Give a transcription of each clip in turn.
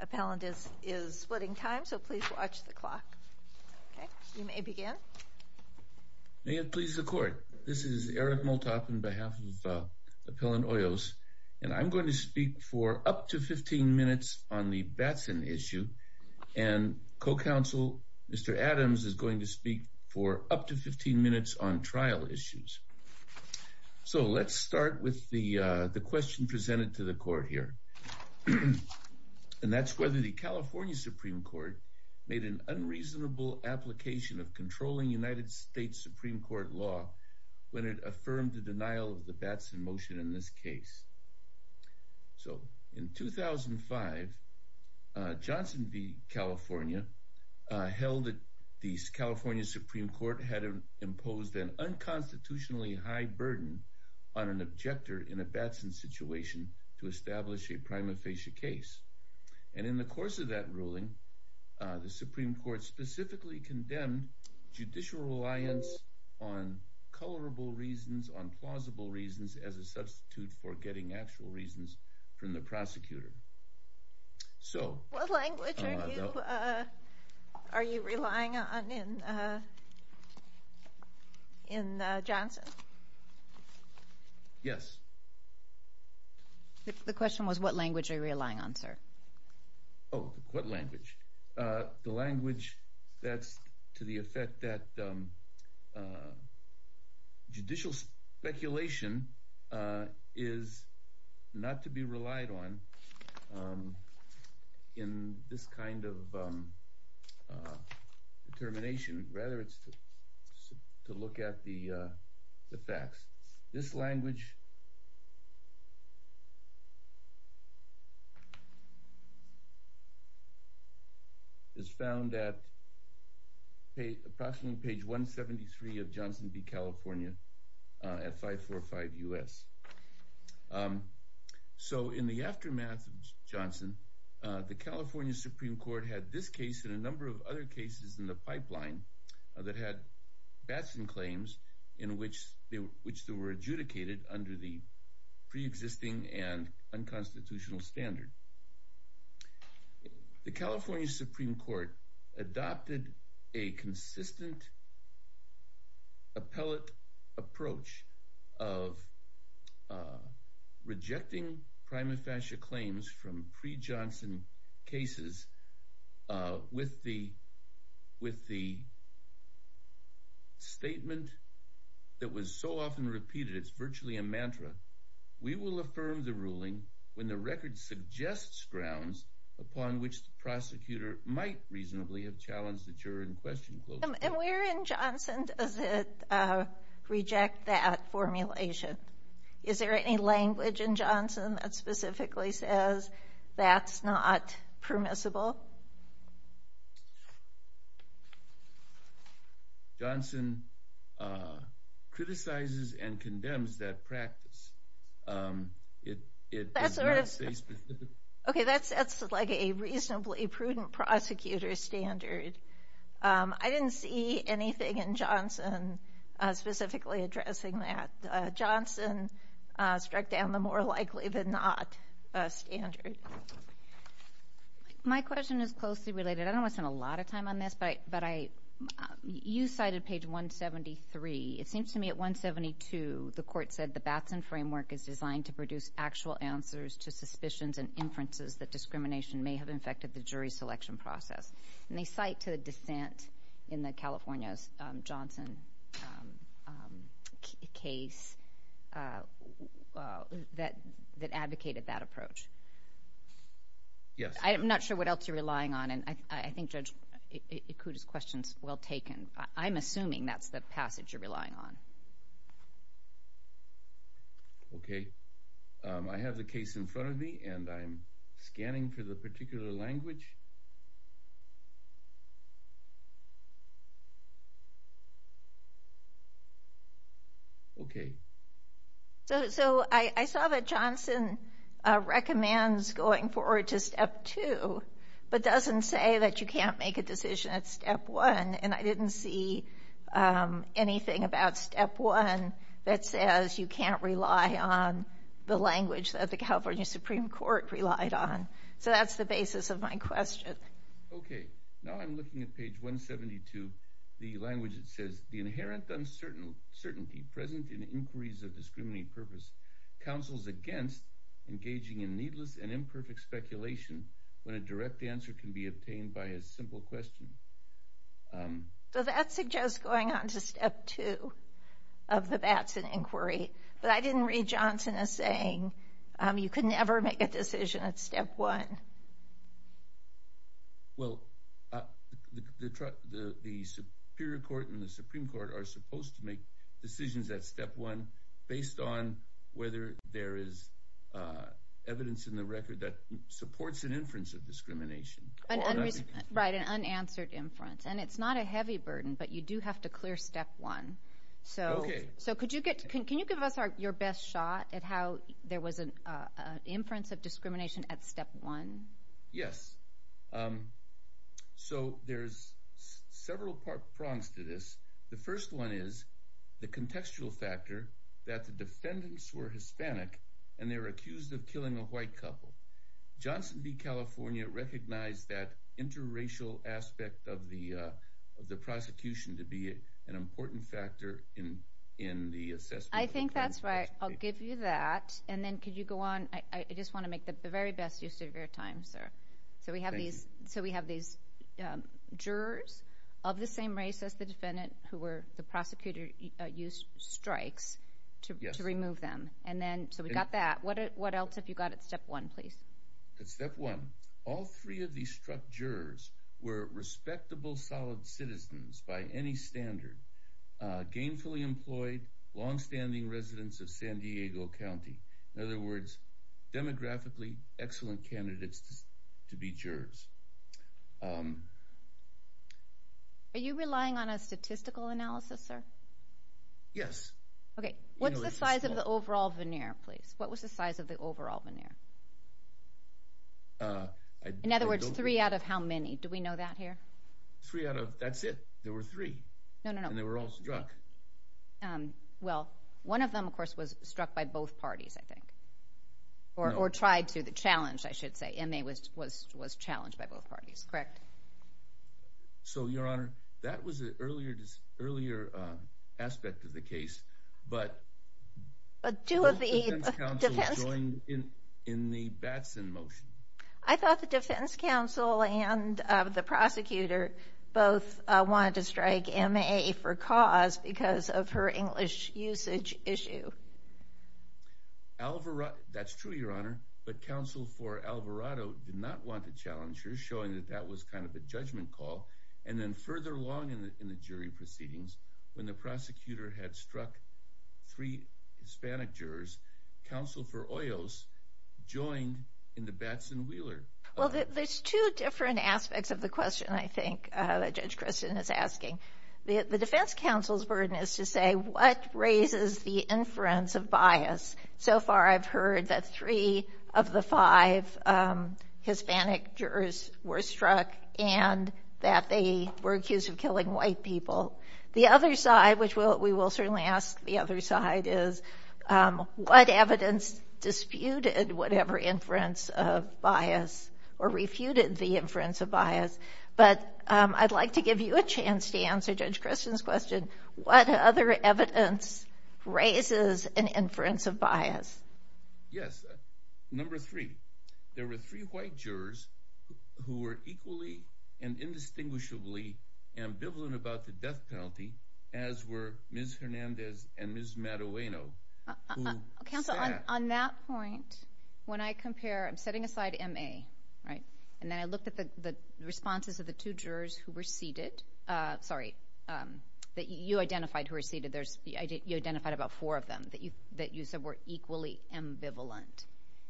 Appellant is splitting time so please watch the clock. Okay you may begin. May it please the court this is Eric Moltoff on behalf of Appellant Hoyos and I'm going to speak for up to 15 minutes on the Batson issue and co-counsel Mr. Adams is going to speak for up to 15 minutes on trial issues. So let's start with the and that's whether the California Supreme Court made an unreasonable application of controlling United States Supreme Court law when it affirmed the denial of the Batson motion in this case. So in 2005 Johnson v. California held that the California Supreme Court had imposed an unconstitutionally high burden on an objector in a Batson situation to establish a prima facie case and in the course of that ruling the Supreme Court specifically condemned judicial reliance on colorable reasons on plausible reasons as a substitute for getting actual reasons from the prosecutor. So what language are you relying on in Johnson? Yes. The question was what language are you relying on sir? Oh what language? The language that's to the effect that judicial speculation is not to be relied on in this kind of determination. Rather it's to look at the facts. This language is found at approximately page 173 of Johnson v. California at 545 U.S. So in the aftermath of Johnson the California Supreme Court had this case and a number of other cases in the pipeline that had Batson claims in which they were adjudicated under the pre-existing and unconstitutional standard. The California Supreme Court adopted a consistent appellate approach of rejecting prima facie claims from pre-Johnson cases with the statement that was so often repeated it's virtually a mantra. We will affirm the ruling when the record suggests grounds upon which the prosecutor might reasonably have challenged the juror in question. And where in Johnson does it reject that formulation? Is there any language in Johnson that specifically says that's permissible? Johnson criticizes and condemns that practice. Okay that's that's like a reasonably prudent prosecutor standard. I didn't see anything in Johnson specifically addressing that. Johnson struck down the more likely than not standard. My question is closely related. I don't want to spend a lot of time on this but you cited page 173. It seems to me at 172 the court said the Batson framework is designed to produce actual answers to suspicions and inferences that discrimination may have infected the jury selection process. They cite to that advocated that approach. Yes. I am not sure what else you're relying on and I think Judge Ikuda's questions well taken. I'm assuming that's the passage you're relying on. Okay I have the case in front of me and I'm scanning for the Johnson recommends going forward to step 2 but doesn't say that you can't make a decision at step 1 and I didn't see anything about step 1 that says you can't rely on the language that the California Supreme Court relied on. So that's the basis of my question. Okay now I'm looking at page 172 the language it says the inherent uncertainty present in inquiries of counsels against engaging in needless and imperfect speculation when a direct answer can be obtained by a simple question. So that suggests going on to step 2 of the Batson inquiry but I didn't read Johnson as saying you can never make a decision at step 1. Well the Superior Court and the Supreme Court are supposed to make decisions at step 1 based on whether there is evidence in the record that supports an inference of discrimination. Right an unanswered inference and it's not a heavy burden but you do have to clear step 1. So could you give us your best shot at how there was an inference of discrimination at step 1? Yes so there's several prongs to this. The first one is the contextual factor that the defendants were Hispanic and they were accused of killing a white couple. Johnson v. California recognized that interracial aspect of the of the prosecution to be an important factor in in the assessment. I think that's right I'll give you that and then could you go on I just want to make the very best use of your time sir. So we have these jurors of the same race as the defendant who were the prosecutor used strikes to remove them and then so we got that what else have you got at step 1 please? At step 1 all three of these struck jurors were respectable solid citizens by any standard gainfully employed long standing residents of San Diego County. In other words demographically excellent candidates to be jurors. Are you relying on a statistical analysis sir? Yes. Okay what's the size of the overall veneer please what was the size of the overall veneer? In other words three out of how many do we know that here? Three out of that's it there were three. No no no. And they were all struck. Well one of them of both parties I think or or tried to the challenge I should say and they was was was challenged by both parties correct? So your honor that was earlier this earlier aspect of the case but but two of the defense counsel joined in in the Batson motion. I thought the defense counsel and the prosecutor both wanted to strike MA for cause because of her English usage issue. Alvarado that's true your honor but counsel for Alvarado did not want to challenge her showing that that was kind of a judgment call and then further along in the jury proceedings when the prosecutor had struck three Hispanic jurors counsel for Oyo's joined in the Batson-Wheeler. Well there's two different aspects of the The defense counsel's burden is to say what raises the inference of bias? So far I've heard that three of the five Hispanic jurors were struck and that they were accused of killing white people. The other side which will we will certainly ask the other side is what evidence disputed whatever inference of bias but I'd like to give you a chance to answer Judge Christian's question what other evidence raises an inference of bias? Yes number three there were three white jurors who were equally and indistinguishably ambivalent about the death penalty as were Ms. Hernandez and Ms. Madoweno. Counsel on that point when I compare I'm setting aside MA right and then I looked at the the responses of the two jurors who were seated sorry that you identified who are seated there's the idea you identified about four of them that you that you said were equally ambivalent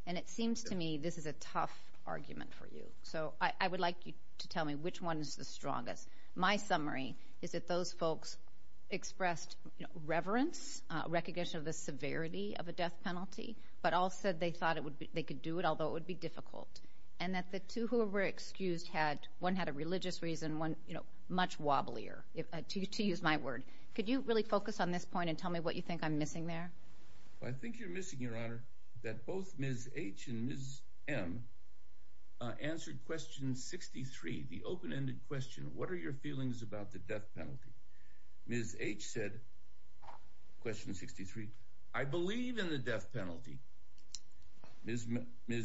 and it seems to me this is a tough argument for you so I would like you to tell me which one is the strongest my summary is that those folks expressed reverence recognition of the severity of a death penalty but all said they thought it would be they could do it although it would be difficult and that the two who were excused had one had a religious reason one you know much wobblier if I choose to use my word could you really focus on this point and tell me what you think I'm missing there? I think you're missing your honor that both Ms. H and Ms. M answered question 63 the open-ended question what are your feelings about the death penalty? Ms. H said question 63 I believe in the death penalty. Ms.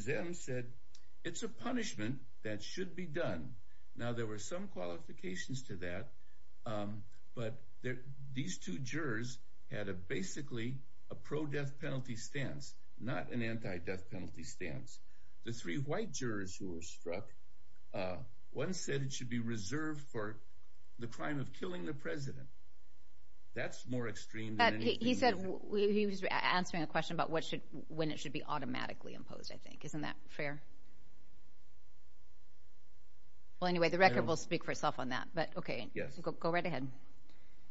M said it's a punishment that should be done now there were some qualifications to that but there these two jurors had a basically a pro-death penalty stance not an anti-death penalty stance the three white jurors who were struck one said it should be reserved for the crime of answering a question about what should when it should be automatically imposed I think isn't that fair? Well anyway the record will speak for itself on that but okay yes go right ahead.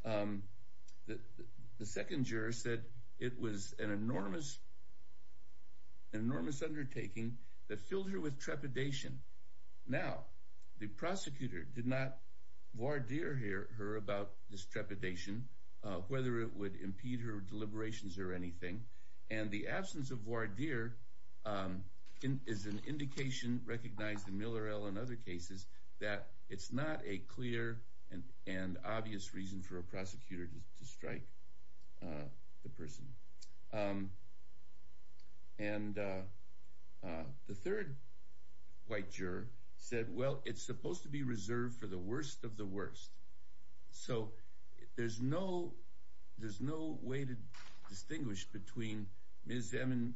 The second juror said it was an enormous enormous undertaking that filled her with trepidation now the prosecutor did not voir dire her about this trepidation whether it would impede her liberations or anything and the absence of voir dire is an indication recognized in Miller L and other cases that it's not a clear and and obvious reason for a prosecutor to strike the person and the third white juror said well it's supposed to be reserved for the worst of the worst so there's no way to distinguish between Ms. M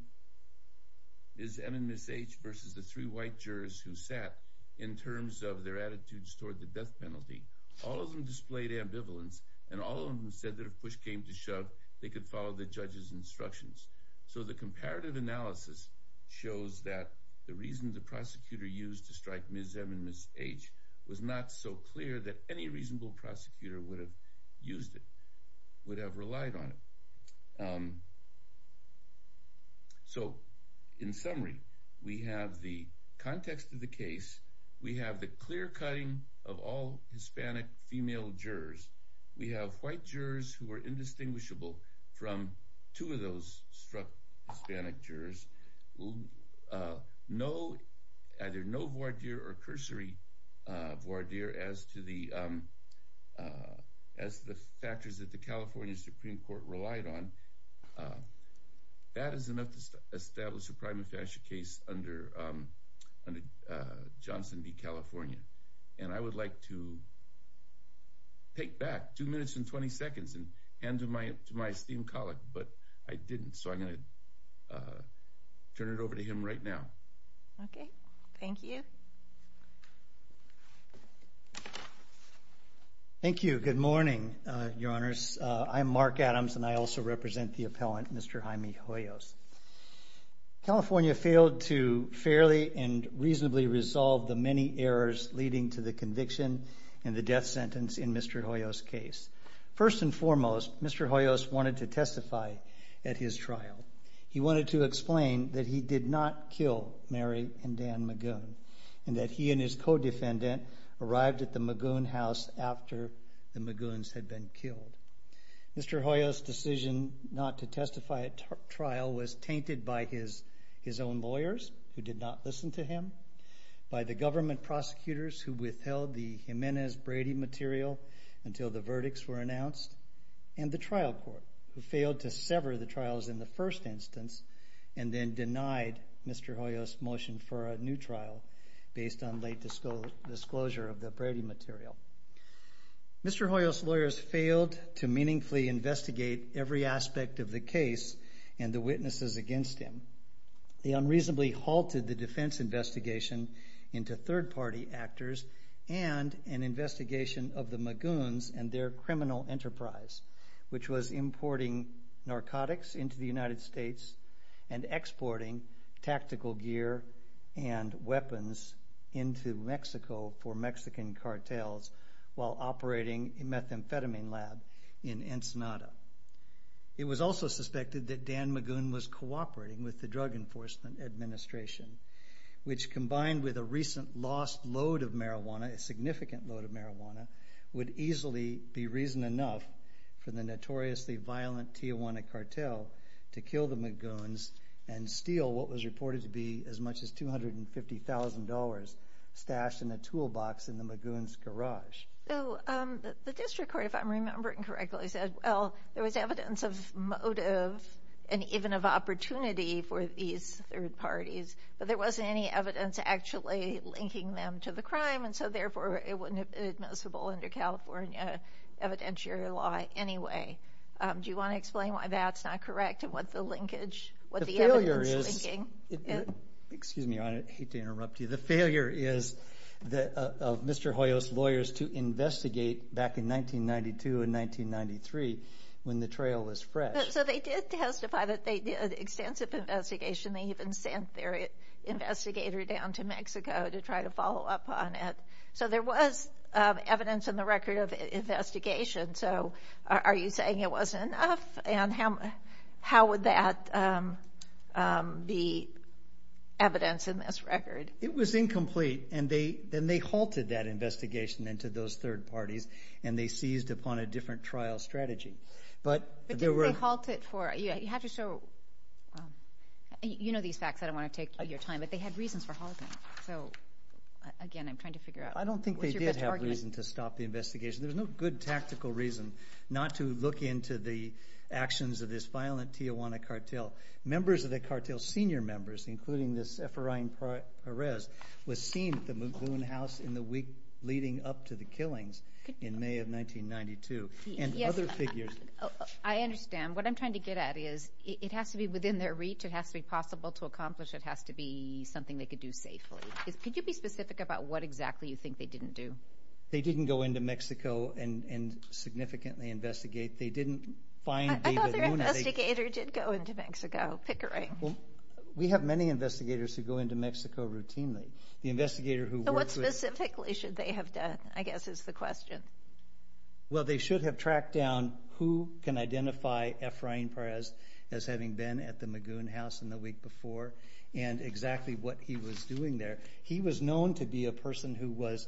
and Ms. H versus the three white jurors who sat in terms of their attitudes toward the death penalty all of them displayed ambivalence and all of them said that if push came to shove they could follow the judge's instructions so the comparative analysis shows that the reason the prosecutor used to strike Ms. M and Ms. H was not so clear that any reasonable prosecutor would have used it would have relied on it so in summary we have the context of the case we have the clear-cutting of all Hispanic female jurors we have white jurors who are indistinguishable from two of those Hispanic jurors no either no voir dire or cursory voir dire as to the as the factors that the California Supreme Court relied on that is enough to establish a prima facie case under Johnson v. California and I would like to take back two minutes and 20 seconds and hand to my to my esteemed colleague but I didn't so I'm going to turn it over to him right now okay thank you thank you good morning your honors I'm Mark Adams and I also represent the appellant Mr. Jaime Hoyos. California failed to fairly and reasonably resolve the many errors leading to the conviction and the death sentence in Mr. Hoyos wanted to testify at his trial he wanted to explain that he did not kill Mary and Dan Magoon and that he and his co-defendant arrived at the Magoon house after the Magoons had been killed. Mr. Hoyos decision not to testify at trial was tainted by his his own lawyers who did not listen to him by the government prosecutors who withheld the Jimenez Brady material until the verdicts were filed to sever the trials in the first instance and then denied Mr. Hoyos motion for a new trial based on late disclosure of the Brady material. Mr. Hoyos lawyers failed to meaningfully investigate every aspect of the case and the witnesses against him. They unreasonably halted the defense investigation into third-party actors and an investigation of the Magoons and their criminal enterprise which was importing narcotics into the United States and exporting tactical gear and weapons into Mexico for Mexican cartels while operating a methamphetamine lab in Ensenada. It was also suspected that Dan Magoon was cooperating with the Drug Enforcement Administration which combined with a recent lost load of marijuana, a significant load of marijuana would easily be reason enough for the notoriously violent Tijuana cartel to kill the Magoons and steal what was reported to be as much as $250,000 stashed in a toolbox in the Magoons garage. The district court if I'm remembering correctly said well there was evidence of motive and even of opportunity for these third parties but there wasn't any evidence actually linking them to the crime and so therefore it wouldn't have been admissible under California evidentiary law anyway. Do you want to explain why that's not correct and what the linkage, what the evidence is linking? The failure is, excuse me I hate to interrupt you, the failure is that of Mr. Hoyos lawyers to investigate back in 1992 and 1993 when the trail was fresh. So they did testify that they did extensive investigation, they even sent their investigator down to try to follow up on it. So there was evidence in the record of investigation so are you saying it wasn't enough and how how would that be evidence in this record? It was incomplete and they then they halted that investigation into those third parties and they seized upon a different trial strategy. But didn't they halt it for, you have to show, you know these facts I don't want to take your time but they had reasons for halting so again I'm trying to figure out. I don't think they did have a reason to stop the investigation. There's no good tactical reason not to look into the actions of this violent Tijuana cartel. Members of the cartel, senior members including this Efrain Perez was seen at the Muglun house in the week leading up to the killings in May of 1992. Yes I understand what I'm trying to get at is it has to be within their reach, it has to be something they could do safely. Could you be specific about what exactly you think they didn't do? They didn't go into Mexico and and significantly investigate. They didn't find David Luna. I thought their investigator did go into Mexico. Pickering. We have many investigators who go into Mexico routinely. The investigator who worked with. What specifically should they have done I guess is the question. Well they should have tracked down who can identify Efrain Perez as having been at the Muglun house in the week before and exactly what he was doing there. He was known to be a person who was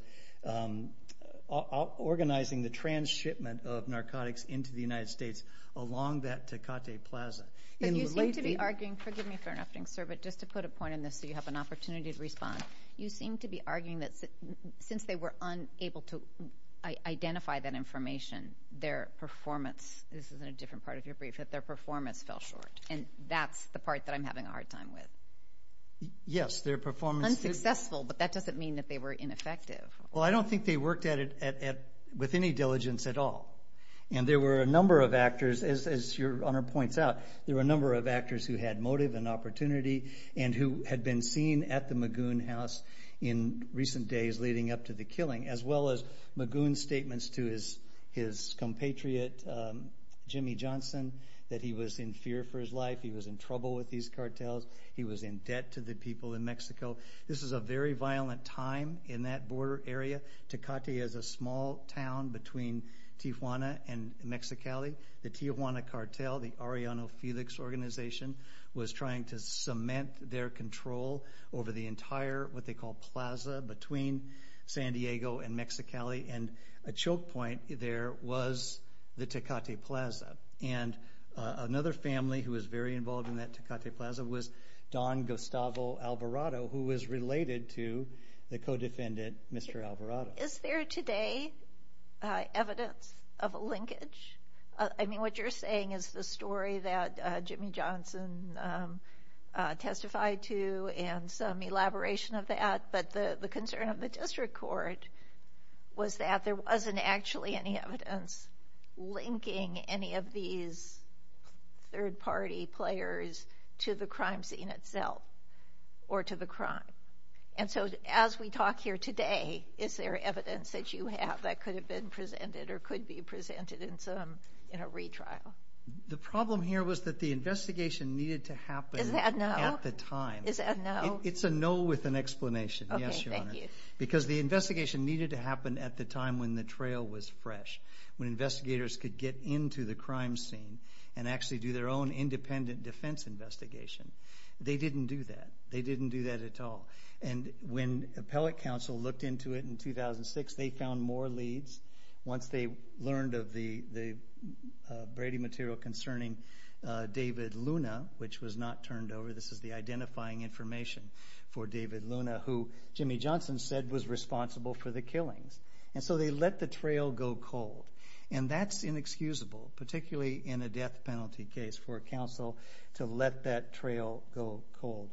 organizing the trans shipment of narcotics into the United States along that Tecate Plaza. But you seem to be arguing, forgive me for interrupting sir, but just to put a point in this so you have an opportunity to respond. You seem to be arguing that since they were unable to identify that information, their performance, this is a different part of that I'm having a hard time with. Yes, their performance. Unsuccessful, but that doesn't mean that they were ineffective. Well I don't think they worked at it with any diligence at all. And there were a number of actors, as your honor points out, there were a number of actors who had motive and opportunity and who had been seen at the Muglun house in recent days leading up to the killing. As well as Muglun's statements to his compatriot, Jimmy Johnson, that he was in fear for his life. He was in trouble with these cartels. He was in debt to the people in Mexico. This is a very violent time in that border area. Tecate is a small town between Tijuana and Mexicali. The Tijuana cartel, the Arellano Felix organization, was trying to cement their control over the entire, what they call, plaza between San Diego and Mexicali. And a choke point there was the Tecate plaza was Don Gustavo Alvarado, who was related to the co-defendant, Mr. Alvarado. Is there today evidence of a linkage? I mean what you're saying is the story that Jimmy Johnson testified to and some elaboration of that, but the concern of the district court was that there wasn't actually any evidence linking any of these third party players to the crime scene itself or to the crime. And so as we talk here today, is there evidence that you have that could have been presented or could be presented in a retrial? The problem here was that the investigation needed to happen at the time. Is that a no? It's a no with an explanation. Yes, Your Honor. Okay, thank you. Because the investigation needed to happen at the time when the trail was fresh. When investigators could get into the crime scene and actually do their own independent defense investigation. They didn't do that. They didn't do that at all. And when appellate counsel looked into it in 2006, they found more leads once they learned of the Brady material concerning David Luna, which was not turned over. This is the identifying information for David Luna, who Jimmy Johnson said was responsible for the killings. And so they let the trail go cold. And that's inexcusable, particularly in a death penalty case, for counsel to let the trail go cold.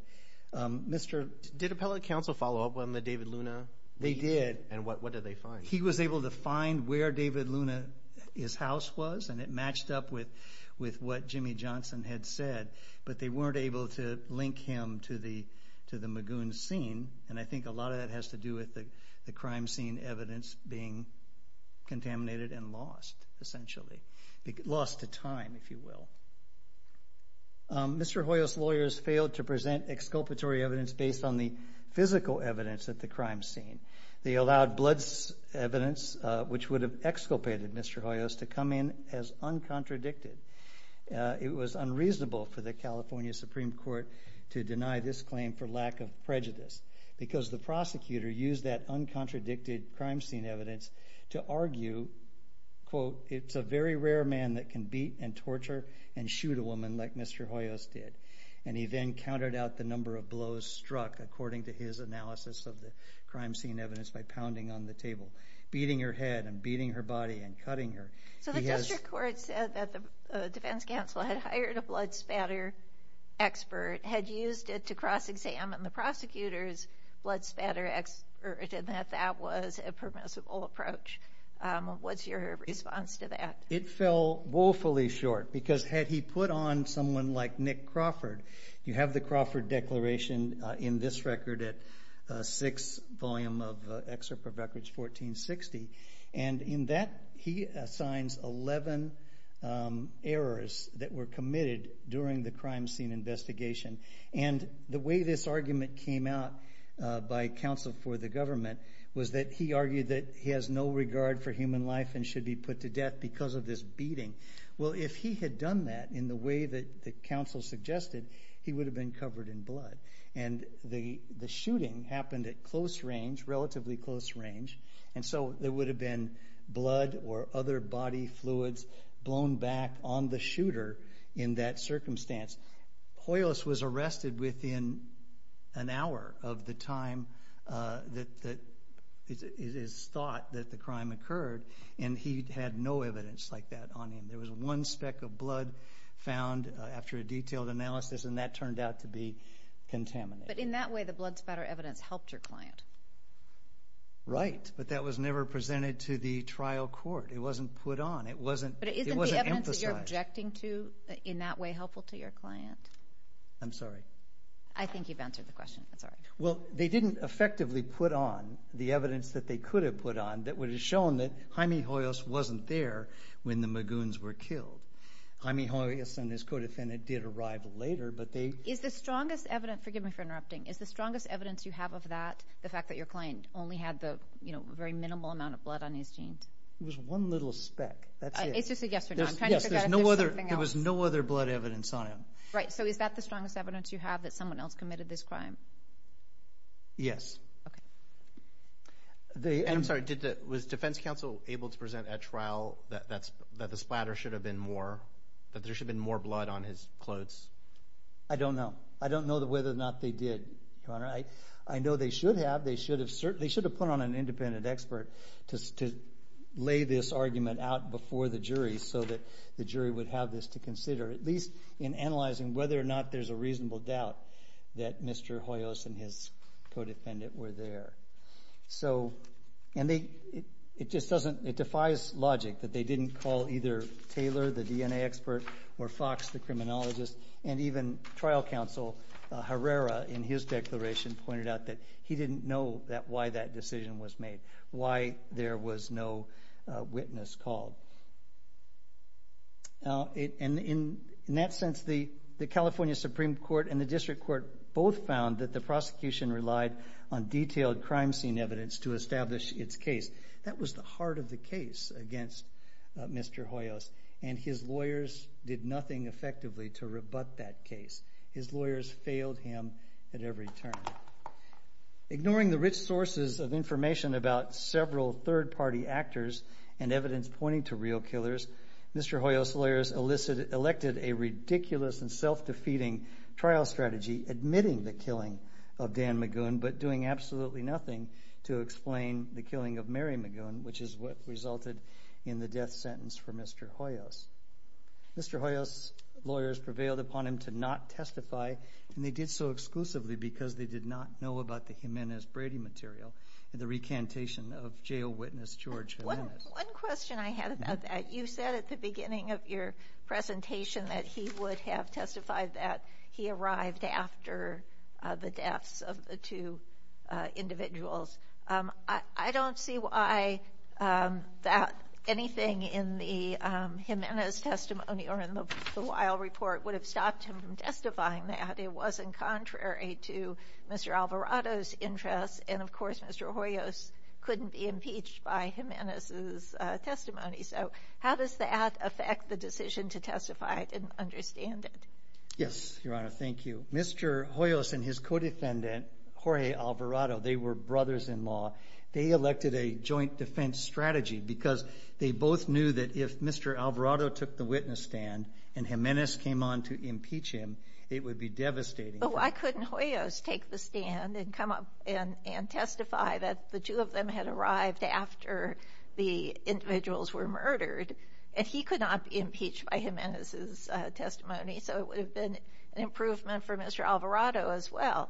Did appellate counsel follow up on the David Luna? They did. And what did they find? He was able to find where David Luna's house was, and it matched up with what Jimmy Johnson had said. But they weren't able to link him to the Magoon scene. And I think a lot of that has to do with the crime scene evidence being contaminated and lost, essentially. Lost to time, if you will. Mr. Hoyos' lawyers failed to present exculpatory evidence based on the physical evidence at the crime scene. They allowed blood evidence, which would have exculpated Mr. Hoyos, to come in as uncontradicted. It was unreasonable for the California Supreme Court to deny this claim for lack of prejudice, because the prosecutor used that uncontradicted crime scene evidence to argue, quote, it's a very rare man that can beat and torture and shoot a woman like Mr. Hoyos did. And he then counted out the number of blows struck, according to his analysis of the crime scene evidence, by pounding on the table, beating her head and beating her body and cutting her. So the district court said that the defense counsel had hired a blood spatter expert, had used it to cross-examine the prosecutor's blood spatter expert, and that that was a permissible approach. What's your response to that? It fell woefully short, because had he put on someone like Nick Crawford, you have the Crawford Declaration in this record at 6 volume of Excerpt of Records 1460, and in that he assigns 11 errors that were committed during the crime scene investigation. And the way this argument came out by counsel for the government was that he argued that he has no regard for human life and should be put to death because of this beating. Well, if he had done that in the way that the counsel suggested, he would have been covered in blood. And the shooting happened at close range, relatively close range, and so there would have been blood or other body fluids blown back on the shooter in that circumstance. Hoyos was arrested within an hour of the time that it is thought that the crime occurred, and he had no evidence like that on him. There was one speck of blood found after a detailed analysis, and that turned out to be contaminated. But in that way, the blood spatter evidence helped your client. Right, but that was never presented to the trial court. It wasn't put on. It wasn't emphasized. Was what you're objecting to in that way helpful to your client? I'm sorry. I think you've answered the question. I'm sorry. Well, they didn't effectively put on the evidence that they could have put on that would have shown that Jaime Hoyos wasn't there when the Magoons were killed. Jaime Hoyos and his co-defendant did arrive later, but they... Is the strongest evidence, forgive me for interrupting, is the strongest evidence you have of that, the fact that your client only had the, you know, very minimal amount of blood on his jeans? It was one little speck. That's it. It's just a yes or no. I'm trying to figure out if there's something else. There was no other blood evidence on him. Right. So is that the strongest evidence you have, that someone else committed this crime? Yes. Okay. I'm sorry. Was defense counsel able to present at trial that the splatter should have been more, that there should have been more blood on his clothes? I don't know. I don't know whether or not they did, Your Honor. I know they should have. They should have put on an independent expert to lay this argument out before the jury so that the jury would have this to consider, at least in analyzing whether or not there's a reasonable doubt that Mr. Hoyos and his co-defendant were there. So, and they, it just doesn't, it defies logic that they didn't call either Taylor, the DNA expert, or Fox, the criminologist, and even trial counsel Herrera in his declaration pointed out that he didn't know why that decision was made, why there was no witness called. And in that sense, the California Supreme Court and the district court both found that the prosecution relied on detailed crime scene evidence to establish its case. That was the heart of the case against Mr. Hoyos, and his lawyers did nothing effectively to rebut that case. His lawyers failed him at every turn. Ignoring the rich sources of information about several third-party actors and evidence pointing to real killers, Mr. Hoyos' lawyers elected a ridiculous and self-defeating trial strategy, admitting the killing of Dan McGoon, but doing absolutely nothing to explain the killing of Mary McGoon, which is what resulted in the death sentence for Mr. Hoyos. Mr. Hoyos' lawyers prevailed upon him to not testify, and they did so exclusively because they did not know about the Jimenez-Brady material and the recantation of jail witness George Jimenez. One question I had about that, you said at the beginning of your presentation that he would have testified that he arrived after the deaths of the two individuals. I don't see why that anything in the Jimenez testimony or in the Weil report would have stopped him from testifying that. It wasn't contrary to Mr. Alvarado's interests, and of course, Mr. Hoyos couldn't be impeached by Jimenez's testimony. So how does that affect the decision to testify? I didn't understand it. Yes, Your Honor. Thank you. Mr. Hoyos and his co-defendant, Jorge Alvarado, they were brothers-in-law. They elected a joint defense strategy because they both knew that if Mr. Alvarado took the witness stand and Jimenez came on to impeach him, it would be devastating. But why couldn't Hoyos take the stand and come up and testify that the two of them had arrived after the individuals were murdered, and he could not be impeached by Jimenez's testimony, so it would have been an improvement for Mr. Alvarado as well.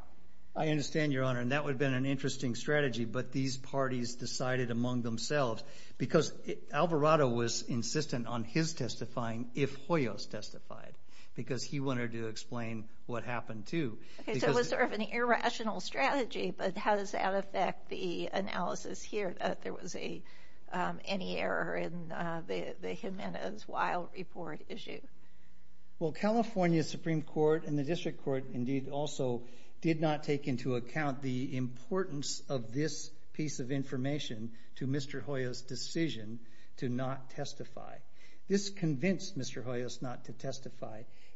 I understand, Your Honor, and that would have been an interesting strategy, but these parties decided among themselves, because Alvarado was insistent on his testifying if Hoyos testified because he wanted to explain what happened too. Okay, so it was sort of an irrational strategy, but how does that affect the analysis here, that there was any error in the Jimenez-Weill report issue? Well, California's Supreme Court and the District Court, indeed, also did not take into account the importance of this piece of information to Mr. Hoyos' decision to not testify.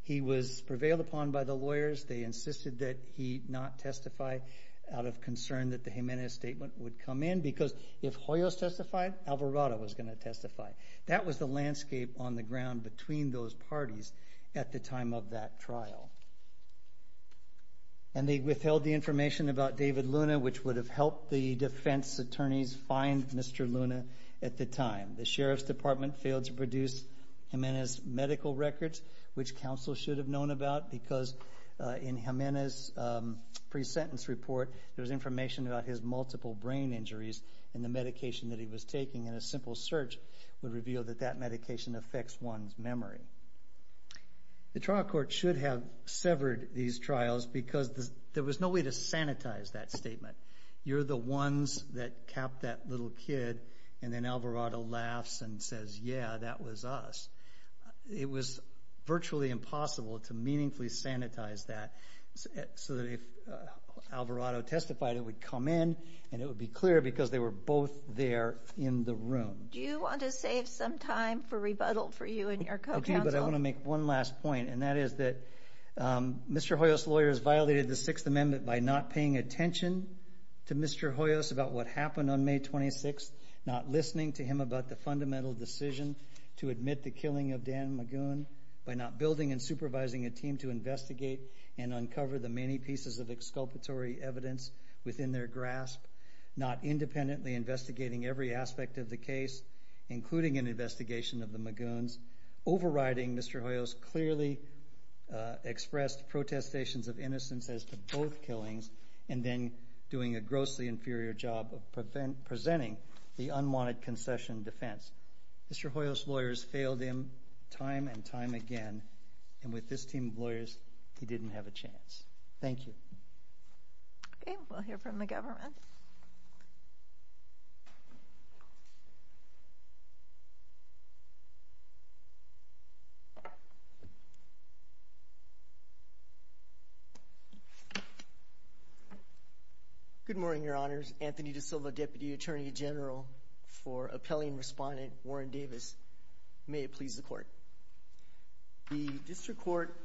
He was prevailed upon by the lawyers. They insisted that he not testify out of concern that the Jimenez statement would come in, because if Hoyos testified, Alvarado was going to testify. That was the landscape on the ground between those parties at the time of that trial. And they withheld the information about David Luna, which would have helped the defense attorneys find Mr. Luna at the time. The Sheriff's Department failed to produce Jimenez's medical records, which counsel should have known about, because in Jimenez's pre-sentence report, there was information about his multiple brain injuries and the medication that he was taking, and a simple search would reveal that that medication affects one's memory. The trial court should have severed these trials because there was no way to sanitize that statement. You're the ones that capped that little kid, and then Alvarado laughs and says, yeah, that was us. It was virtually impossible to meaningfully sanitize that so that if Alvarado testified, it would come in, and it would be clear because they were both there in the room. Do you want to save some time for rebuttal for you and your co-counsel? Okay, but I want to make one last point, and that is that Mr. Hoyos' lawyers violated the Sixth Amendment by not paying attention to Mr. Hoyos about what happened on May 26th, not listening to him about the fundamental decision to admit the killing of Dan Magoon, by not building and supervising a team to investigate and uncover the many pieces of exculpatory evidence within their grasp, not independently investigating every aspect of the case, including an investigation of the Magoons, overriding Mr. Hoyos' clearly expressed protestations of innocence as to both killings and then doing a grossly inferior job of presenting the unwanted concession defense. Mr. Hoyos' lawyers failed him time and time again, and with this team of lawyers, he didn't have a chance. Thank you. Okay, we'll hear from the government. Good morning, Your Honors. Anthony DaSilva, Deputy Attorney General for Appellee and Respondent Warren Davis. May it please the Court. The District Court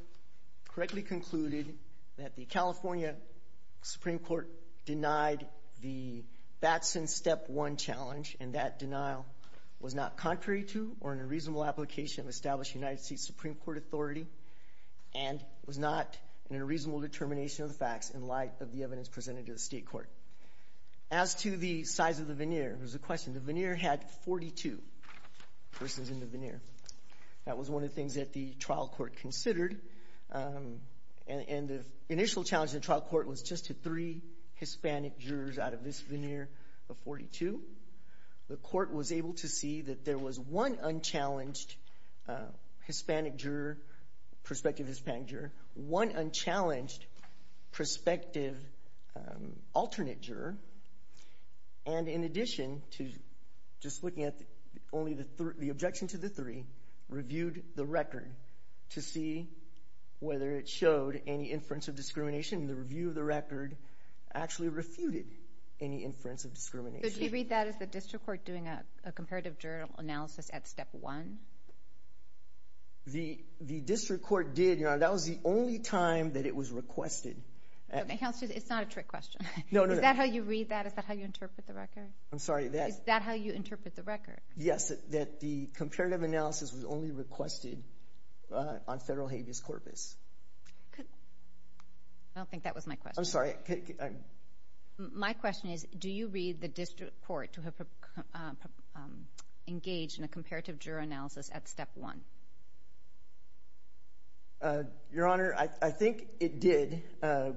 correctly concluded that the California Supreme Court denied the Batson Step 1 challenge, and that denial was not contrary to or in a reasonable application of established United States Supreme Court authority and was not in a reasonable determination of the facts in light of the evidence presented to the State Court. As to the size of the veneer, there's a question. The veneer had 42 persons in the veneer. That was one of the things that the trial court considered, and the initial challenge to the trial court was just to three Hispanic jurors out of this veneer of 42. The court was able to see that there was one unchallenged perspective Hispanic juror, one unchallenged perspective alternate juror, and in addition to just looking at only the objection to the three, reviewed the record to see whether it showed any inference of discrimination. The review of the record actually refuted any inference of discrimination. Did you read that as the District Court doing a comparative journal analysis at Step 1? The District Court did, Your Honor. That was the only time that it was requested. It's not a trick question. Is that how you read that? Is that how you interpret the record? I'm sorry. Is that how you interpret the record? Yes, that the comparative analysis was only requested on federal habeas corpus. I don't think that was my question. I'm sorry. My question is, do you read the District Court to have engaged in a comparative juror analysis at Step 1? Your Honor, I think it did,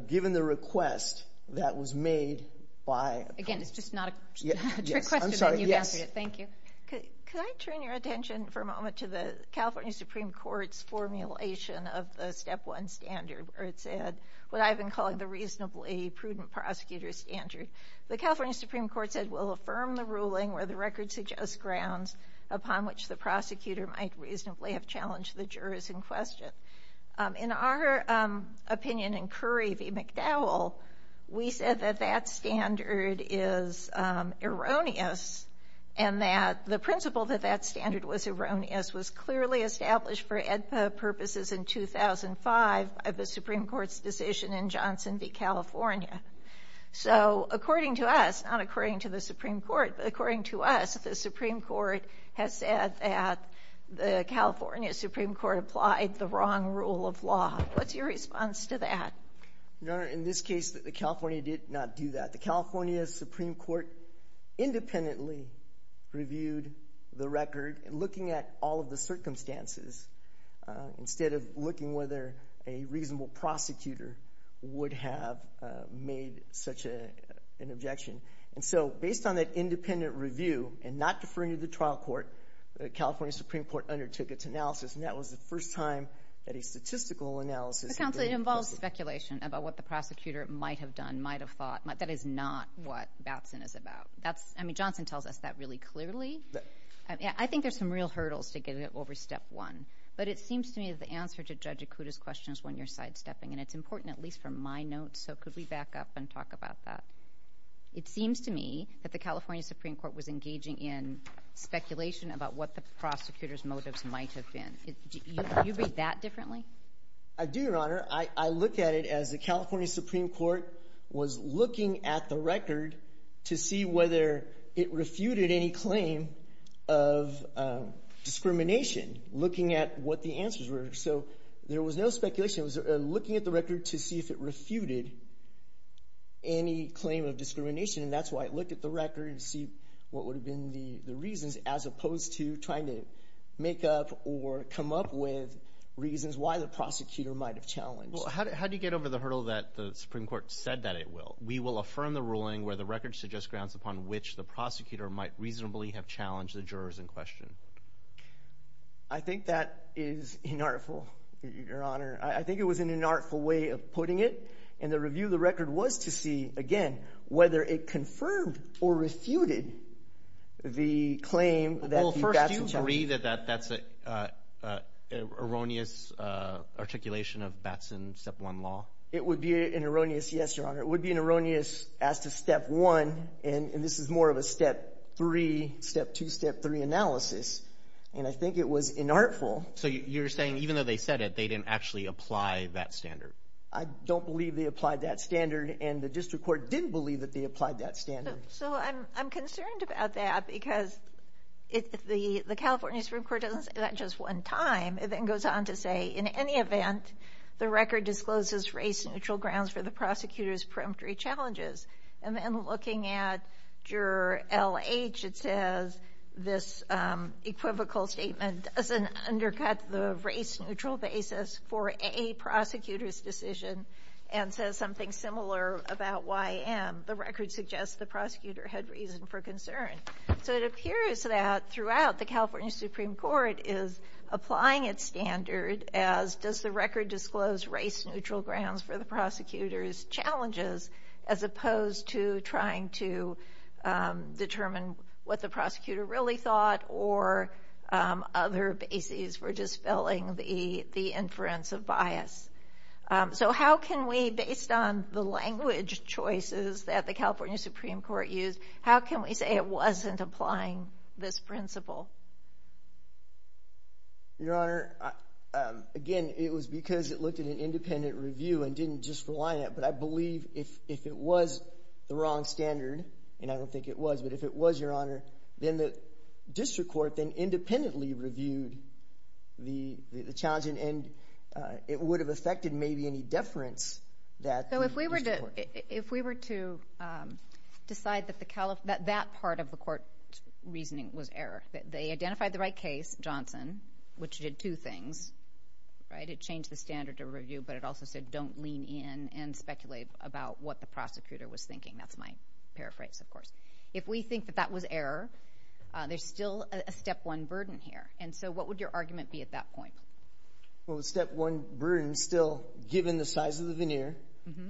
given the request that was made by— Again, it's just not a trick question. I'm sorry, yes. Thank you. Could I turn your attention for a moment to the California Supreme Court's formulation of the Step 1 standard where it said what I've been calling the reasonably prudent prosecutor standard. The California Supreme Court said, where the record suggests grounds upon which the prosecutor might reasonably have challenged the jurors in question. In our opinion, in Curry v. McDowell, we said that that standard is erroneous and that the principle that that standard was erroneous was clearly established for EDPA purposes in 2005 by the Supreme Court's decision in Johnson v. California. So, according to us, not according to the Supreme Court, but according to us, the Supreme Court has said that the California Supreme Court applied the wrong rule of law. What's your response to that? Your Honor, in this case, the California did not do that. The California Supreme Court independently reviewed the record, looking at all of the circumstances instead of looking whether a reasonable prosecutor would have made such an objection. And so, based on that independent review and not deferring to the trial court, the California Supreme Court undertook its analysis, and that was the first time that a statistical analysis. Counsel, it involves speculation about what the prosecutor might have done, might have thought. That is not what Batson is about. Johnson tells us that really clearly. I think there's some real hurdles to get over step one, but it seems to me that the answer to Judge Akuta's question is when you're sidestepping. And it's important, at least from my notes, so could we back up and talk about that? It seems to me that the California Supreme Court was engaging in speculation about what the prosecutor's motives might have been. I do, Your Honor. I look at it as the California Supreme Court was looking at the record to see whether it refuted any claim of discrimination, looking at what the answers were. So there was no speculation. It was looking at the record to see if it refuted any claim of discrimination, and that's why it looked at the record to see what would have been the reasons, as opposed to trying to make up or come up with reasons why the prosecutor might have challenged. Well, how do you get over the hurdle that the Supreme Court said that it will? We will affirm the ruling where the record suggests grounds upon which the prosecutor might reasonably have challenged the jurors in question. I think that is inartful, Your Honor. I think it was an inartful way of putting it, and the review of the record was to see, again, whether it confirmed or refuted the claim that the bats had challenged. Well, first, do you agree that that's an erroneous articulation of bats in Step 1 law? It would be an erroneous, yes, Your Honor. It would be an erroneous as to Step 1, and this is more of a Step 3, Step 2, Step 3 analysis, and I think it was inartful. So you're saying even though they said it, they didn't actually apply that standard? I don't believe they applied that standard, and the district court didn't believe that they applied that standard. So I'm concerned about that because if the California Supreme Court doesn't say that just one time, it then goes on to say, in any event, the record discloses race-neutral grounds for the prosecutor's preemptory challenges. And then looking at Juror L.H., it says this equivocal statement doesn't undercut the race-neutral basis for a prosecutor's decision and says something similar about Y.M. The record suggests the prosecutor had reason for concern. So it appears that throughout, the California Supreme Court is applying its standard as, does the record disclose race-neutral grounds for the prosecutor's challenges, as opposed to trying to determine what the prosecutor really thought or other bases for dispelling the inference of bias. So how can we, based on the language choices that the California Supreme Court used, how can we say it wasn't applying this principle? Your Honor, again, it was because it looked at an independent review and didn't just rely on it. But I believe if it was the wrong standard, and I don't think it was, but if it was, Your Honor, then the district court then independently reviewed the challenge, and it would have affected maybe any deference that the district court made. If we were to decide that that part of the court's reasoning was error, they identified the right case, Johnson, which did two things, right? It changed the standard of review, but it also said don't lean in and speculate about what the prosecutor was thinking. That's my paraphrase, of course. If we think that that was error, there's still a step one burden here. And so what would your argument be at that point? Well, the step one burden still, given the size of the veneer,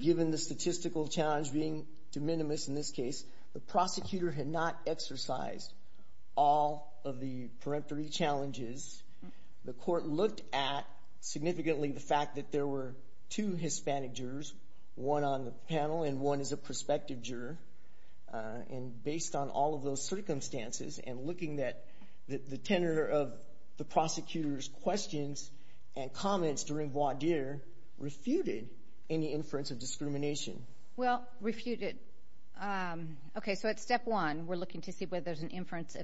given the statistical challenge being de minimis in this case, the prosecutor had not exercised all of the peremptory challenges. The court looked at significantly the fact that there were two Hispanic jurors, one on the panel and one as a prospective juror. And based on all of those circumstances and looking at the tenor of the prosecutor's questions and comments during voir dire, refuted any inference of discrimination. Well, refuted. Okay, so at step one, we're looking to see whether there's an inference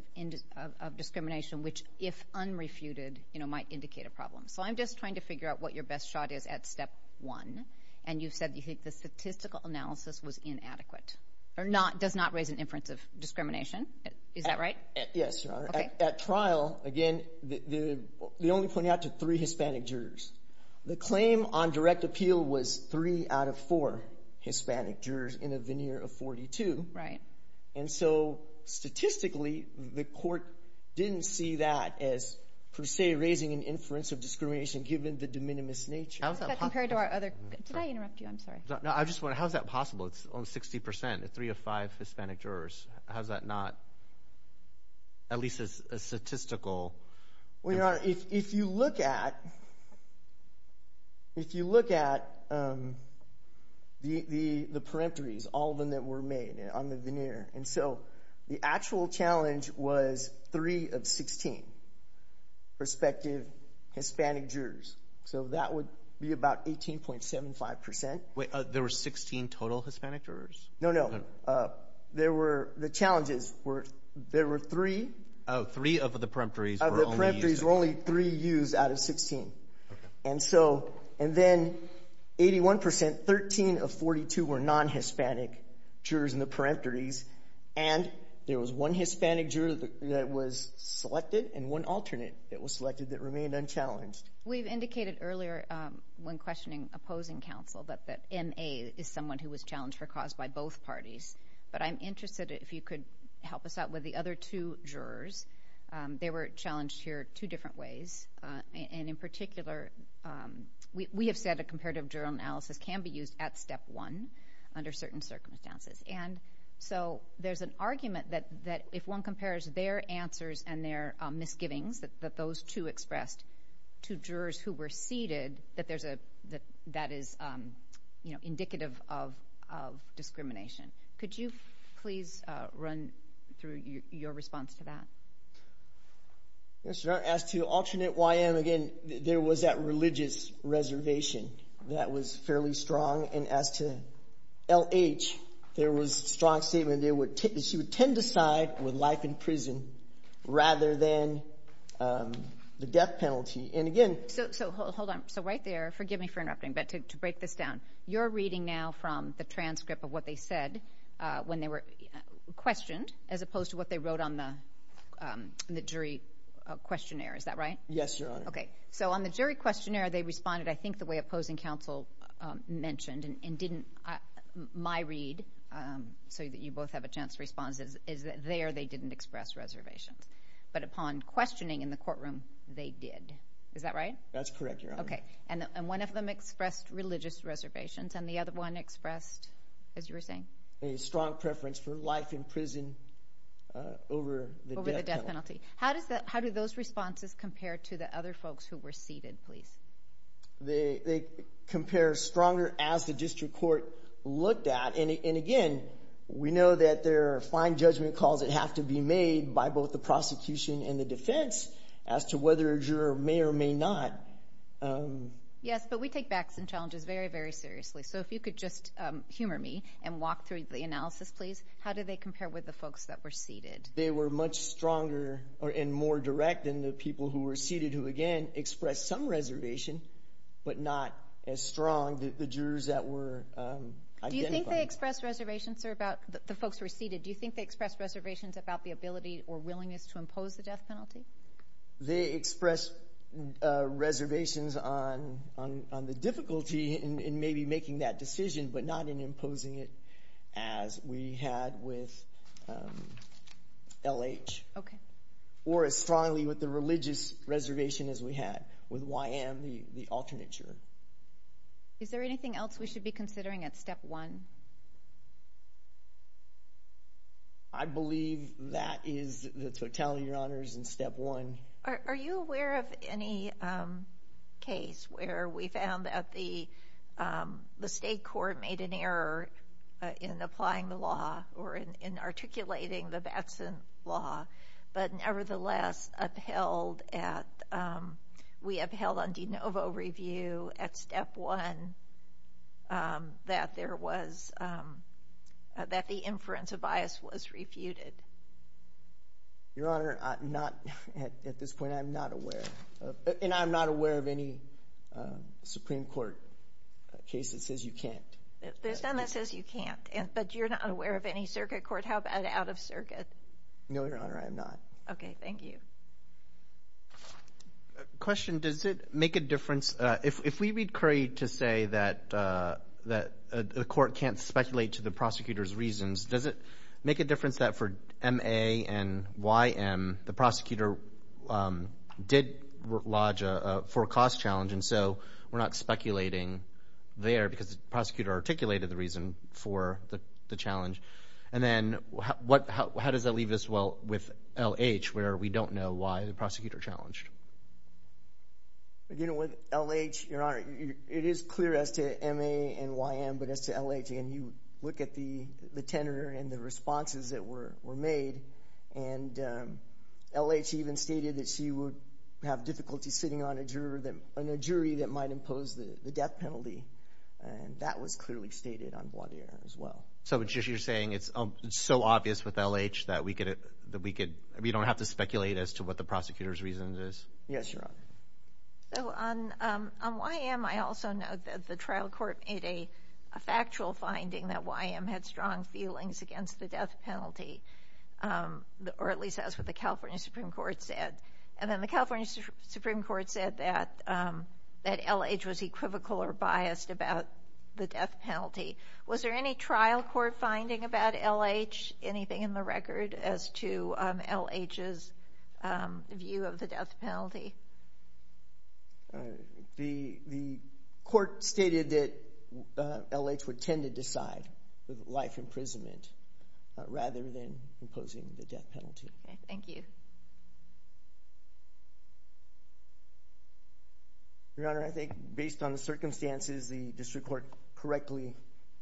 of discrimination, which if unrefuted, you know, might indicate a problem. So I'm just trying to figure out what your best shot is at step one, and you said you think the statistical analysis was inadequate or does not raise an inference of discrimination. Is that right? Yes, Your Honor. At trial, again, they only pointed out to three Hispanic jurors. The claim on direct appeal was three out of four Hispanic jurors in a veneer of 42. Right. And so statistically, the court didn't see that as per se raising an inference of discrimination given the de minimis nature. Did I interrupt you? I'm sorry. No, I just wondered, how is that possible? It's only 60%, three of five Hispanic jurors. How is that not at least a statistical? Well, Your Honor, if you look at the peremptories, all of them that were made on the veneer, and so the actual challenge was three of 16 prospective Hispanic jurors. So that would be about 18.75%. Wait, there were 16 total Hispanic jurors? No, no. The challenges were there were three. Oh, three of the peremptories were only used. Of the peremptories were only three used out of 16. And then 81%, 13 of 42 were non-Hispanic jurors in the peremptories, and there was one Hispanic juror that was selected and one alternate that was selected that remained unchallenged. We've indicated earlier when questioning opposing counsel that MA is someone who was challenged for cause by both parties, but I'm interested if you could help us out with the other two jurors. They were challenged here two different ways, and in particular we have said a comparative journal analysis can be used at step one under certain circumstances. And so there's an argument that if one compares their answers and their misgivings, that those two expressed, to jurors who were seated, that that is indicative of discrimination. Could you please run through your response to that? Yes, Your Honor. As to alternate YM, again, there was that religious reservation that was fairly strong. And as to LH, there was a strong statement that she would tend to side with life in prison rather than the death penalty. And again- So hold on. So right there, forgive me for interrupting, but to break this down, you're reading now from the transcript of what they said when they were questioned as opposed to what they wrote on the jury questionnaire. Is that right? Yes, Your Honor. Okay. So on the jury questionnaire, they responded, I think, the way opposing counsel mentioned and didn't, my read, so that you both have a chance to respond, is that there they didn't express reservations. But upon questioning in the courtroom, they did. Is that right? That's correct, Your Honor. Okay. And one of them expressed religious reservations, and the other one expressed, as you were saying? A strong preference for life in prison over the death penalty. How do those responses compare to the other folks who were seated, please? They compare stronger as the district court looked at. And again, we know that there are fine judgment calls that have to be made by both the prosecution and the defense as to whether a juror may or may not. Yes, but we take facts and challenges very, very seriously. So if you could just humor me and walk through the analysis, please. How do they compare with the folks that were seated? They were much stronger and more direct than the people who were seated, who, again, expressed some reservation but not as strong as the jurors that were identified. Do you think they expressed reservations about the folks who were seated? Do you think they expressed reservations about the ability or willingness to impose the death penalty? They expressed reservations on the difficulty in maybe making that decision but not in imposing it as we had with L.H. or as strongly with the religious reservation as we had with YM, the alternate juror. Is there anything else we should be considering at Step 1? I believe that is the totality of your honors in Step 1. Are you aware of any case where we found that the state court made an error in applying the law or in articulating the Batson law but nevertheless upheld at we upheld on de novo review at Step 1 that there was that the inference of bias was refuted? Your Honor, not at this point. I'm not aware, and I'm not aware of any Supreme Court case that says you can't. There's none that says you can't, but you're not aware of any circuit court? How about out of circuit? No, Your Honor, I am not. Okay. Thank you. Question. Does it make a difference? If we read Curry to say that the court can't speculate to the prosecutor's reasons, does it make a difference that for MA and YM, the prosecutor did lodge a forecast challenge and so we're not speculating there because the prosecutor articulated the reason for the challenge? And then how does that leave us with L.H., where we don't know why the prosecutor challenged? With L.H., Your Honor, it is clear as to MA and YM, but as to L.H., and you look at the tenor and the responses that were made, and L.H. even stated that she would have difficulty sitting on a jury that might impose the death penalty, and that was clearly stated on Wadier as well. So you're saying it's so obvious with L.H. that we don't have to speculate as to what the prosecutor's reason is? Yes, Your Honor. So on YM, I also note that the trial court made a factual finding that YM had strong feelings against the death penalty, or at least that's what the California Supreme Court said. And then the California Supreme Court said that L.H. was equivocal or biased about the death penalty. Was there any trial court finding about L.H., anything in the record as to L.H.'s view of the death penalty? The court stated that L.H. would tend to decide with life imprisonment rather than imposing the death penalty. Okay. Thank you. Your Honor, I think based on the circumstances, the district court correctly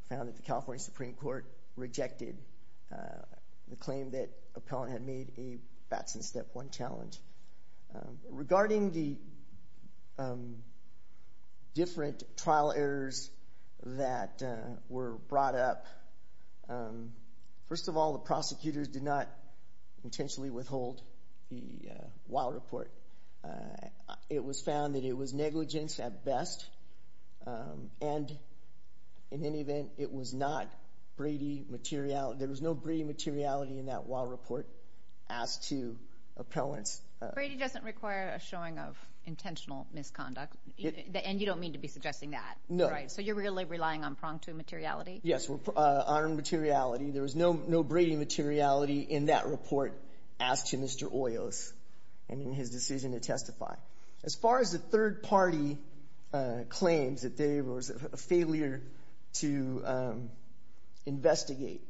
found that the California Supreme Court rejected the claim that appellant had made a Batson Step 1 challenge. Regarding the different trial errors that were brought up, first of all, the prosecutors did not intentionally withhold the Wilde Report. It was found that it was negligence at best, and in any event, it was not Brady materiality. There was no Brady materiality in that Wilde Report as to appellants. Brady doesn't require a showing of intentional misconduct, and you don't mean to be suggesting that, right? No. So you're really relying on pronged immateriality? Yes, pronged immateriality. There was no Brady materiality in that report as to Mr. Oyo's and in his decision to testify. As far as the third-party claims that there was a failure to investigate,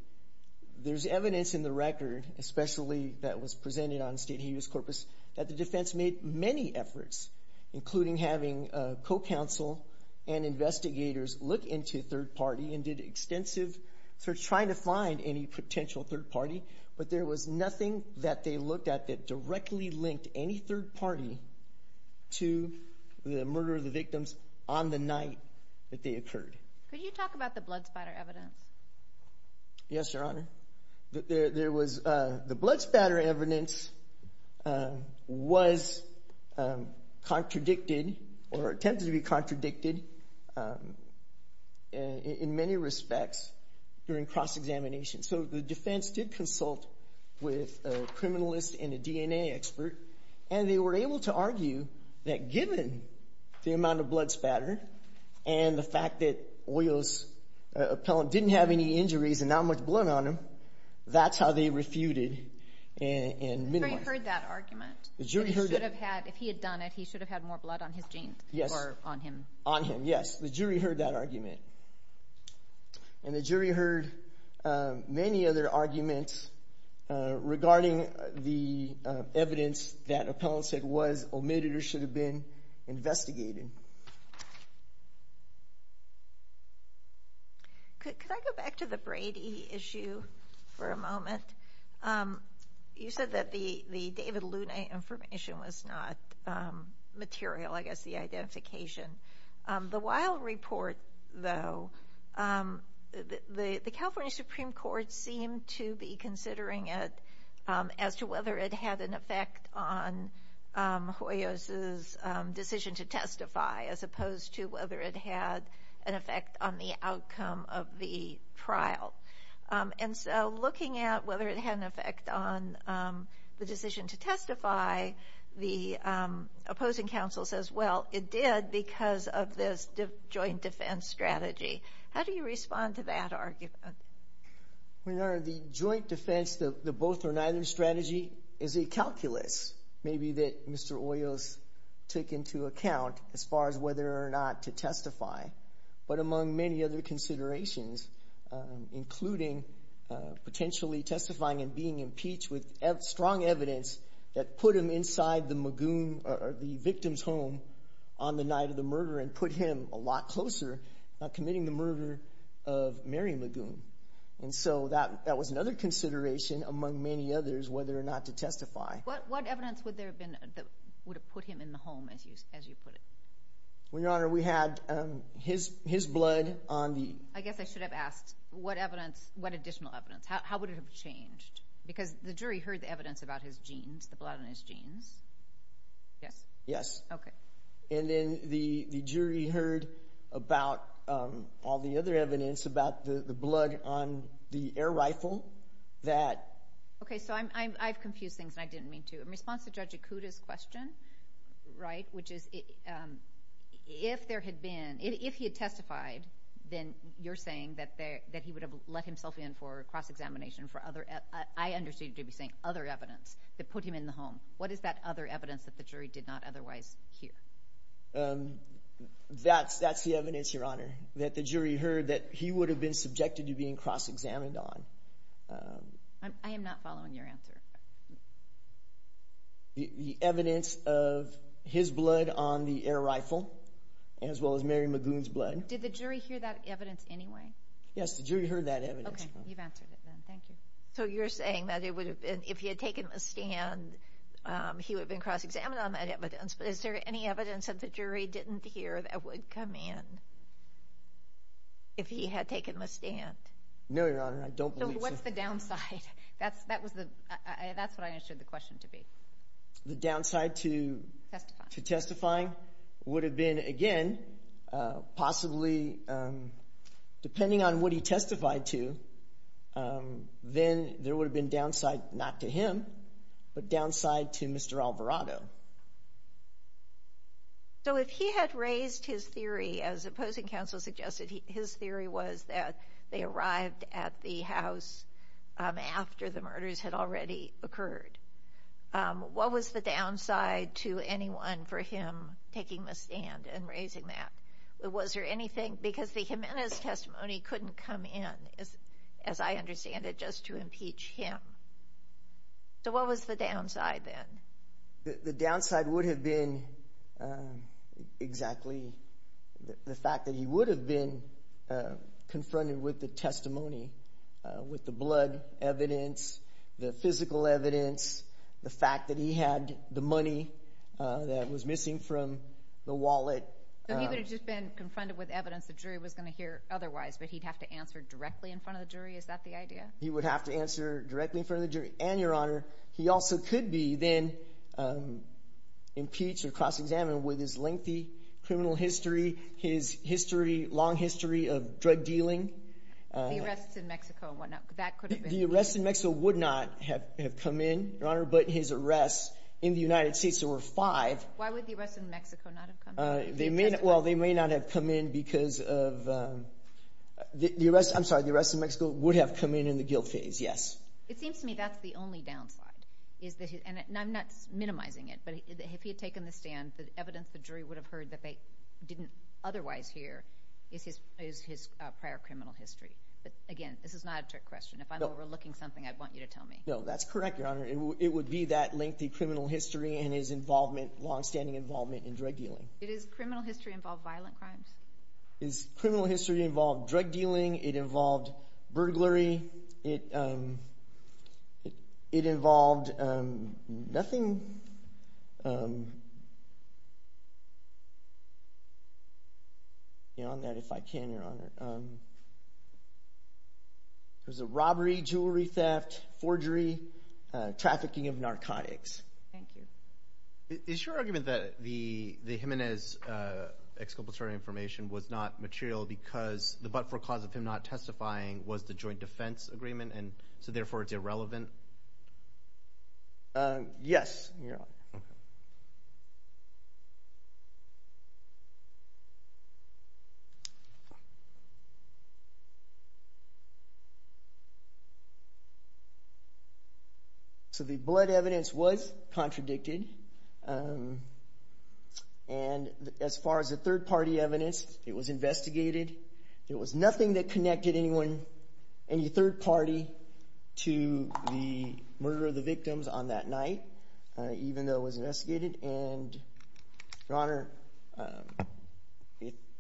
there's evidence in the record, especially that was presented on State Habeas Corpus, that the defense made many efforts, including having co-counsel and investigators look into third-party and did extensive search, trying to find any potential third-party, but there was nothing that they looked at that directly linked any third-party to the murder of the victims on the night that they occurred. Could you talk about the blood spatter evidence? Yes, Your Honor. The blood spatter evidence was contradicted or attempted to be contradicted in many respects during cross-examination. So the defense did consult with a criminalist and a DNA expert, and they were able to argue that given the amount of blood spatter and the fact that Oyo's appellant didn't have any injuries and not much blood on him, that's how they refuted and minimized. The jury heard that argument. If he had done it, he should have had more blood on his jeans or on him. On him, yes. The jury heard that argument. And the jury heard many other arguments regarding the evidence that appellant said was omitted or should have been investigated. Could I go back to the Brady issue for a moment? You said that the David Lunay information was not material, I guess, the identification. The Weill report, though, the California Supreme Court seemed to be considering it as to whether it had an effect on Oyo's decision to testify as opposed to whether it had an effect on the outcome of the trial. And so looking at whether it had an effect on the decision to testify, the opposing counsel says, well, it did because of this joint defense strategy. How do you respond to that argument? Your Honor, the joint defense, the both or neither strategy, is a calculus, maybe that Mr. Oyo's took into account as far as whether or not to testify. But among many other considerations, including potentially testifying and being impeached with strong evidence that put him inside the Magoon or the victim's home on the night of the murder and put him a lot closer, committing the murder of Mary Magoon. And so that was another consideration among many others, whether or not to testify. What evidence would there have been that would have put him in the home, as you put it? Well, Your Honor, we had his blood on the— I guess I should have asked what evidence, what additional evidence. How would it have changed? Because the jury heard the evidence about his genes, the blood on his genes. Yes? Yes. Okay. And then the jury heard about all the other evidence about the blood on the air rifle that— Okay, so I've confused things, and I didn't mean to. In response to Judge Ikuda's question, right, which is if there had been, if he had testified, then you're saying that he would have let himself in for cross-examination for other— I understood you to be saying other evidence that put him in the home. What is that other evidence that the jury did not otherwise hear? That's the evidence, Your Honor, that the jury heard that he would have been subjected to being cross-examined on. I am not following your answer. The evidence of his blood on the air rifle as well as Mary Magoon's blood. Did the jury hear that evidence anyway? Yes, the jury heard that evidence. Okay, you've answered it then. Thank you. So you're saying that it would have been, if he had taken the stand, he would have been cross-examined on that evidence. But is there any evidence that the jury didn't hear that would come in if he had taken the stand? No, Your Honor, I don't believe so. So what's the downside? That's what I understood the question to be. The downside to testifying would have been, again, possibly depending on what he testified to, then there would have been downside not to him, but downside to Mr. Alvarado. So if he had raised his theory as opposing counsel suggested, his theory was that they arrived at the house after the murders had already occurred. What was the downside to anyone for him taking the stand and raising that? Was there anything? Because the Jimenez testimony couldn't come in, as I understand it, just to impeach him. So what was the downside then? The downside would have been exactly the fact that he would have been confronted with the testimony, with the blood evidence, the physical evidence, the fact that he had the money that was missing from the wallet. So he would have just been confronted with evidence the jury was going to hear otherwise, but he'd have to answer directly in front of the jury? Is that the idea? He would have to answer directly in front of the jury. And, Your Honor, he also could be then impeached or cross-examined with his lengthy criminal history, his history, long history of drug dealing. The arrests in Mexico and whatnot, that could have been. The arrests in Mexico would not have come in, Your Honor, but his arrests in the United States, there were five. Why would the arrests in Mexico not have come in? Well, they may not have come in because of, I'm sorry, the arrests in Mexico would have come in in the guilt phase, yes. It seems to me that's the only downside, and I'm not minimizing it, but if he had taken the stand, the evidence the jury would have heard that they didn't otherwise hear is his prior criminal history. But, again, this is not a trick question. If I'm overlooking something, I want you to tell me. No, that's correct, Your Honor. It would be that lengthy criminal history and his involvement, longstanding involvement in drug dealing. Did his criminal history involve violent crimes? His criminal history involved drug dealing. It involved burglary. It involved nothing. Get on that if I can, Your Honor. It was a robbery, jewelry theft, forgery, trafficking of narcotics. Thank you. Is your argument that the Jimenez exculpatory information was not material because the but-for-cause of him not testifying was the joint defense agreement, and so therefore it's irrelevant? Yes, Your Honor. So the blood evidence was contradicted, and as far as the third-party evidence, it was investigated. There was nothing that connected anyone, any third party, to the murder of the victims on that night, even though it was investigated. And, Your Honor,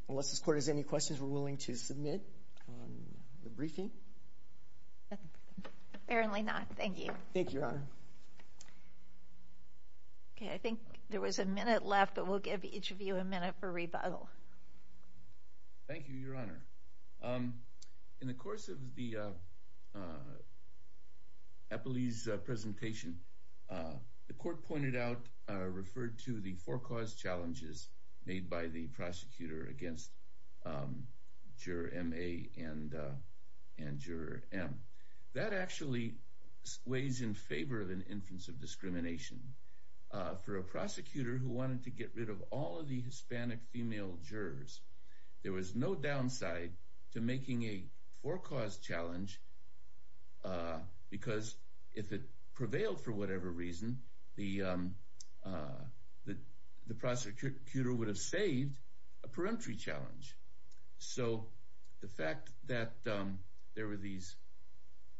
unless this Court has any questions, we're willing to submit on the briefing. Apparently not. Thank you. Thank you, Your Honor. Okay, I think there was a minute left, but we'll give each of you a minute for rebuttal. Thank you, Your Honor. Thank you, Your Honor. In the course of the Eppley's presentation, the Court pointed out or referred to the for-cause challenges made by the prosecutor against Juror M.A. and Juror M. That actually weighs in favor of an inference of discrimination. For a prosecutor who wanted to get rid of all of the Hispanic female jurors, there was no downside to making a for-cause challenge, because if it prevailed for whatever reason, the prosecutor would have saved a peremptory challenge. So the fact that there were these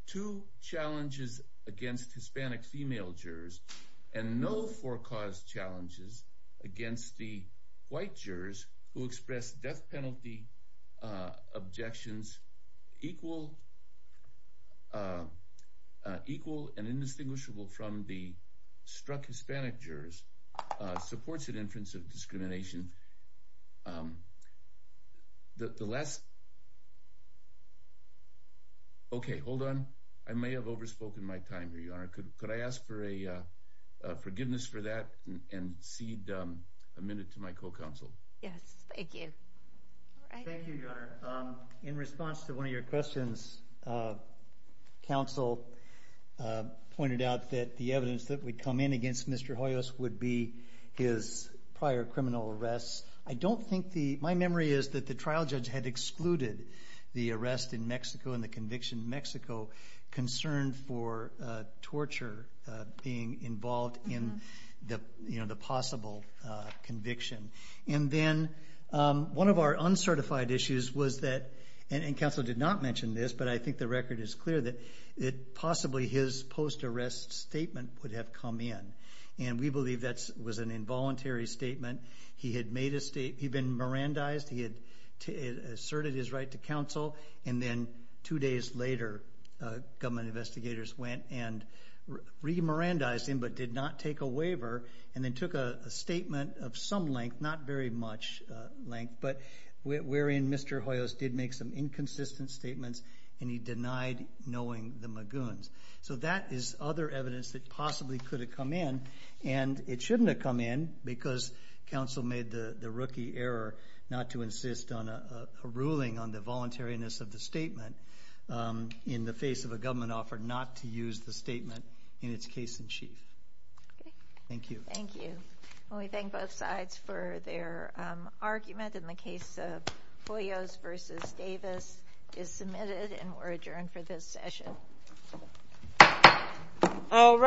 two challenges against Hispanic female jurors and no for-cause challenges against the white jurors who expressed death penalty objections equal and indistinguishable from the struck Hispanic jurors supports an inference of discrimination. The last... Okay, hold on. I may have overspoken my time here, Your Honor. Could I ask for a forgiveness for that and cede a minute to my co-counsel? Yes, thank you. Thank you, Your Honor. In response to one of your questions, counsel pointed out that the evidence that would come in against Mr. Hoyos would be his prior criminal arrests. I don't think the...my memory is that the trial judge had excluded the arrest in Mexico and the conviction in Mexico concerned for torture being involved in the possible conviction. And then one of our uncertified issues was that, and counsel did not mention this, but I think the record is clear that possibly his post-arrest statement would have come in, and we believe that was an involuntary statement. He had made a statement. He had been Mirandized. He had asserted his right to counsel, and then two days later government investigators went and re-Mirandized him but did not take a waiver and then took a statement of some length, not very much length, but wherein Mr. Hoyos did make some inconsistent statements and he denied knowing the Magoons. So that is other evidence that possibly could have come in, and it shouldn't have come in because counsel made the rookie error not to insist on a ruling on the voluntariness of the statement in the face of a government offer not to use the statement in its case in chief. Thank you. Thank you. Well, we thank both sides for their argument in the case of Hoyos v. Davis is submitted and we're adjourned for this session. All rise.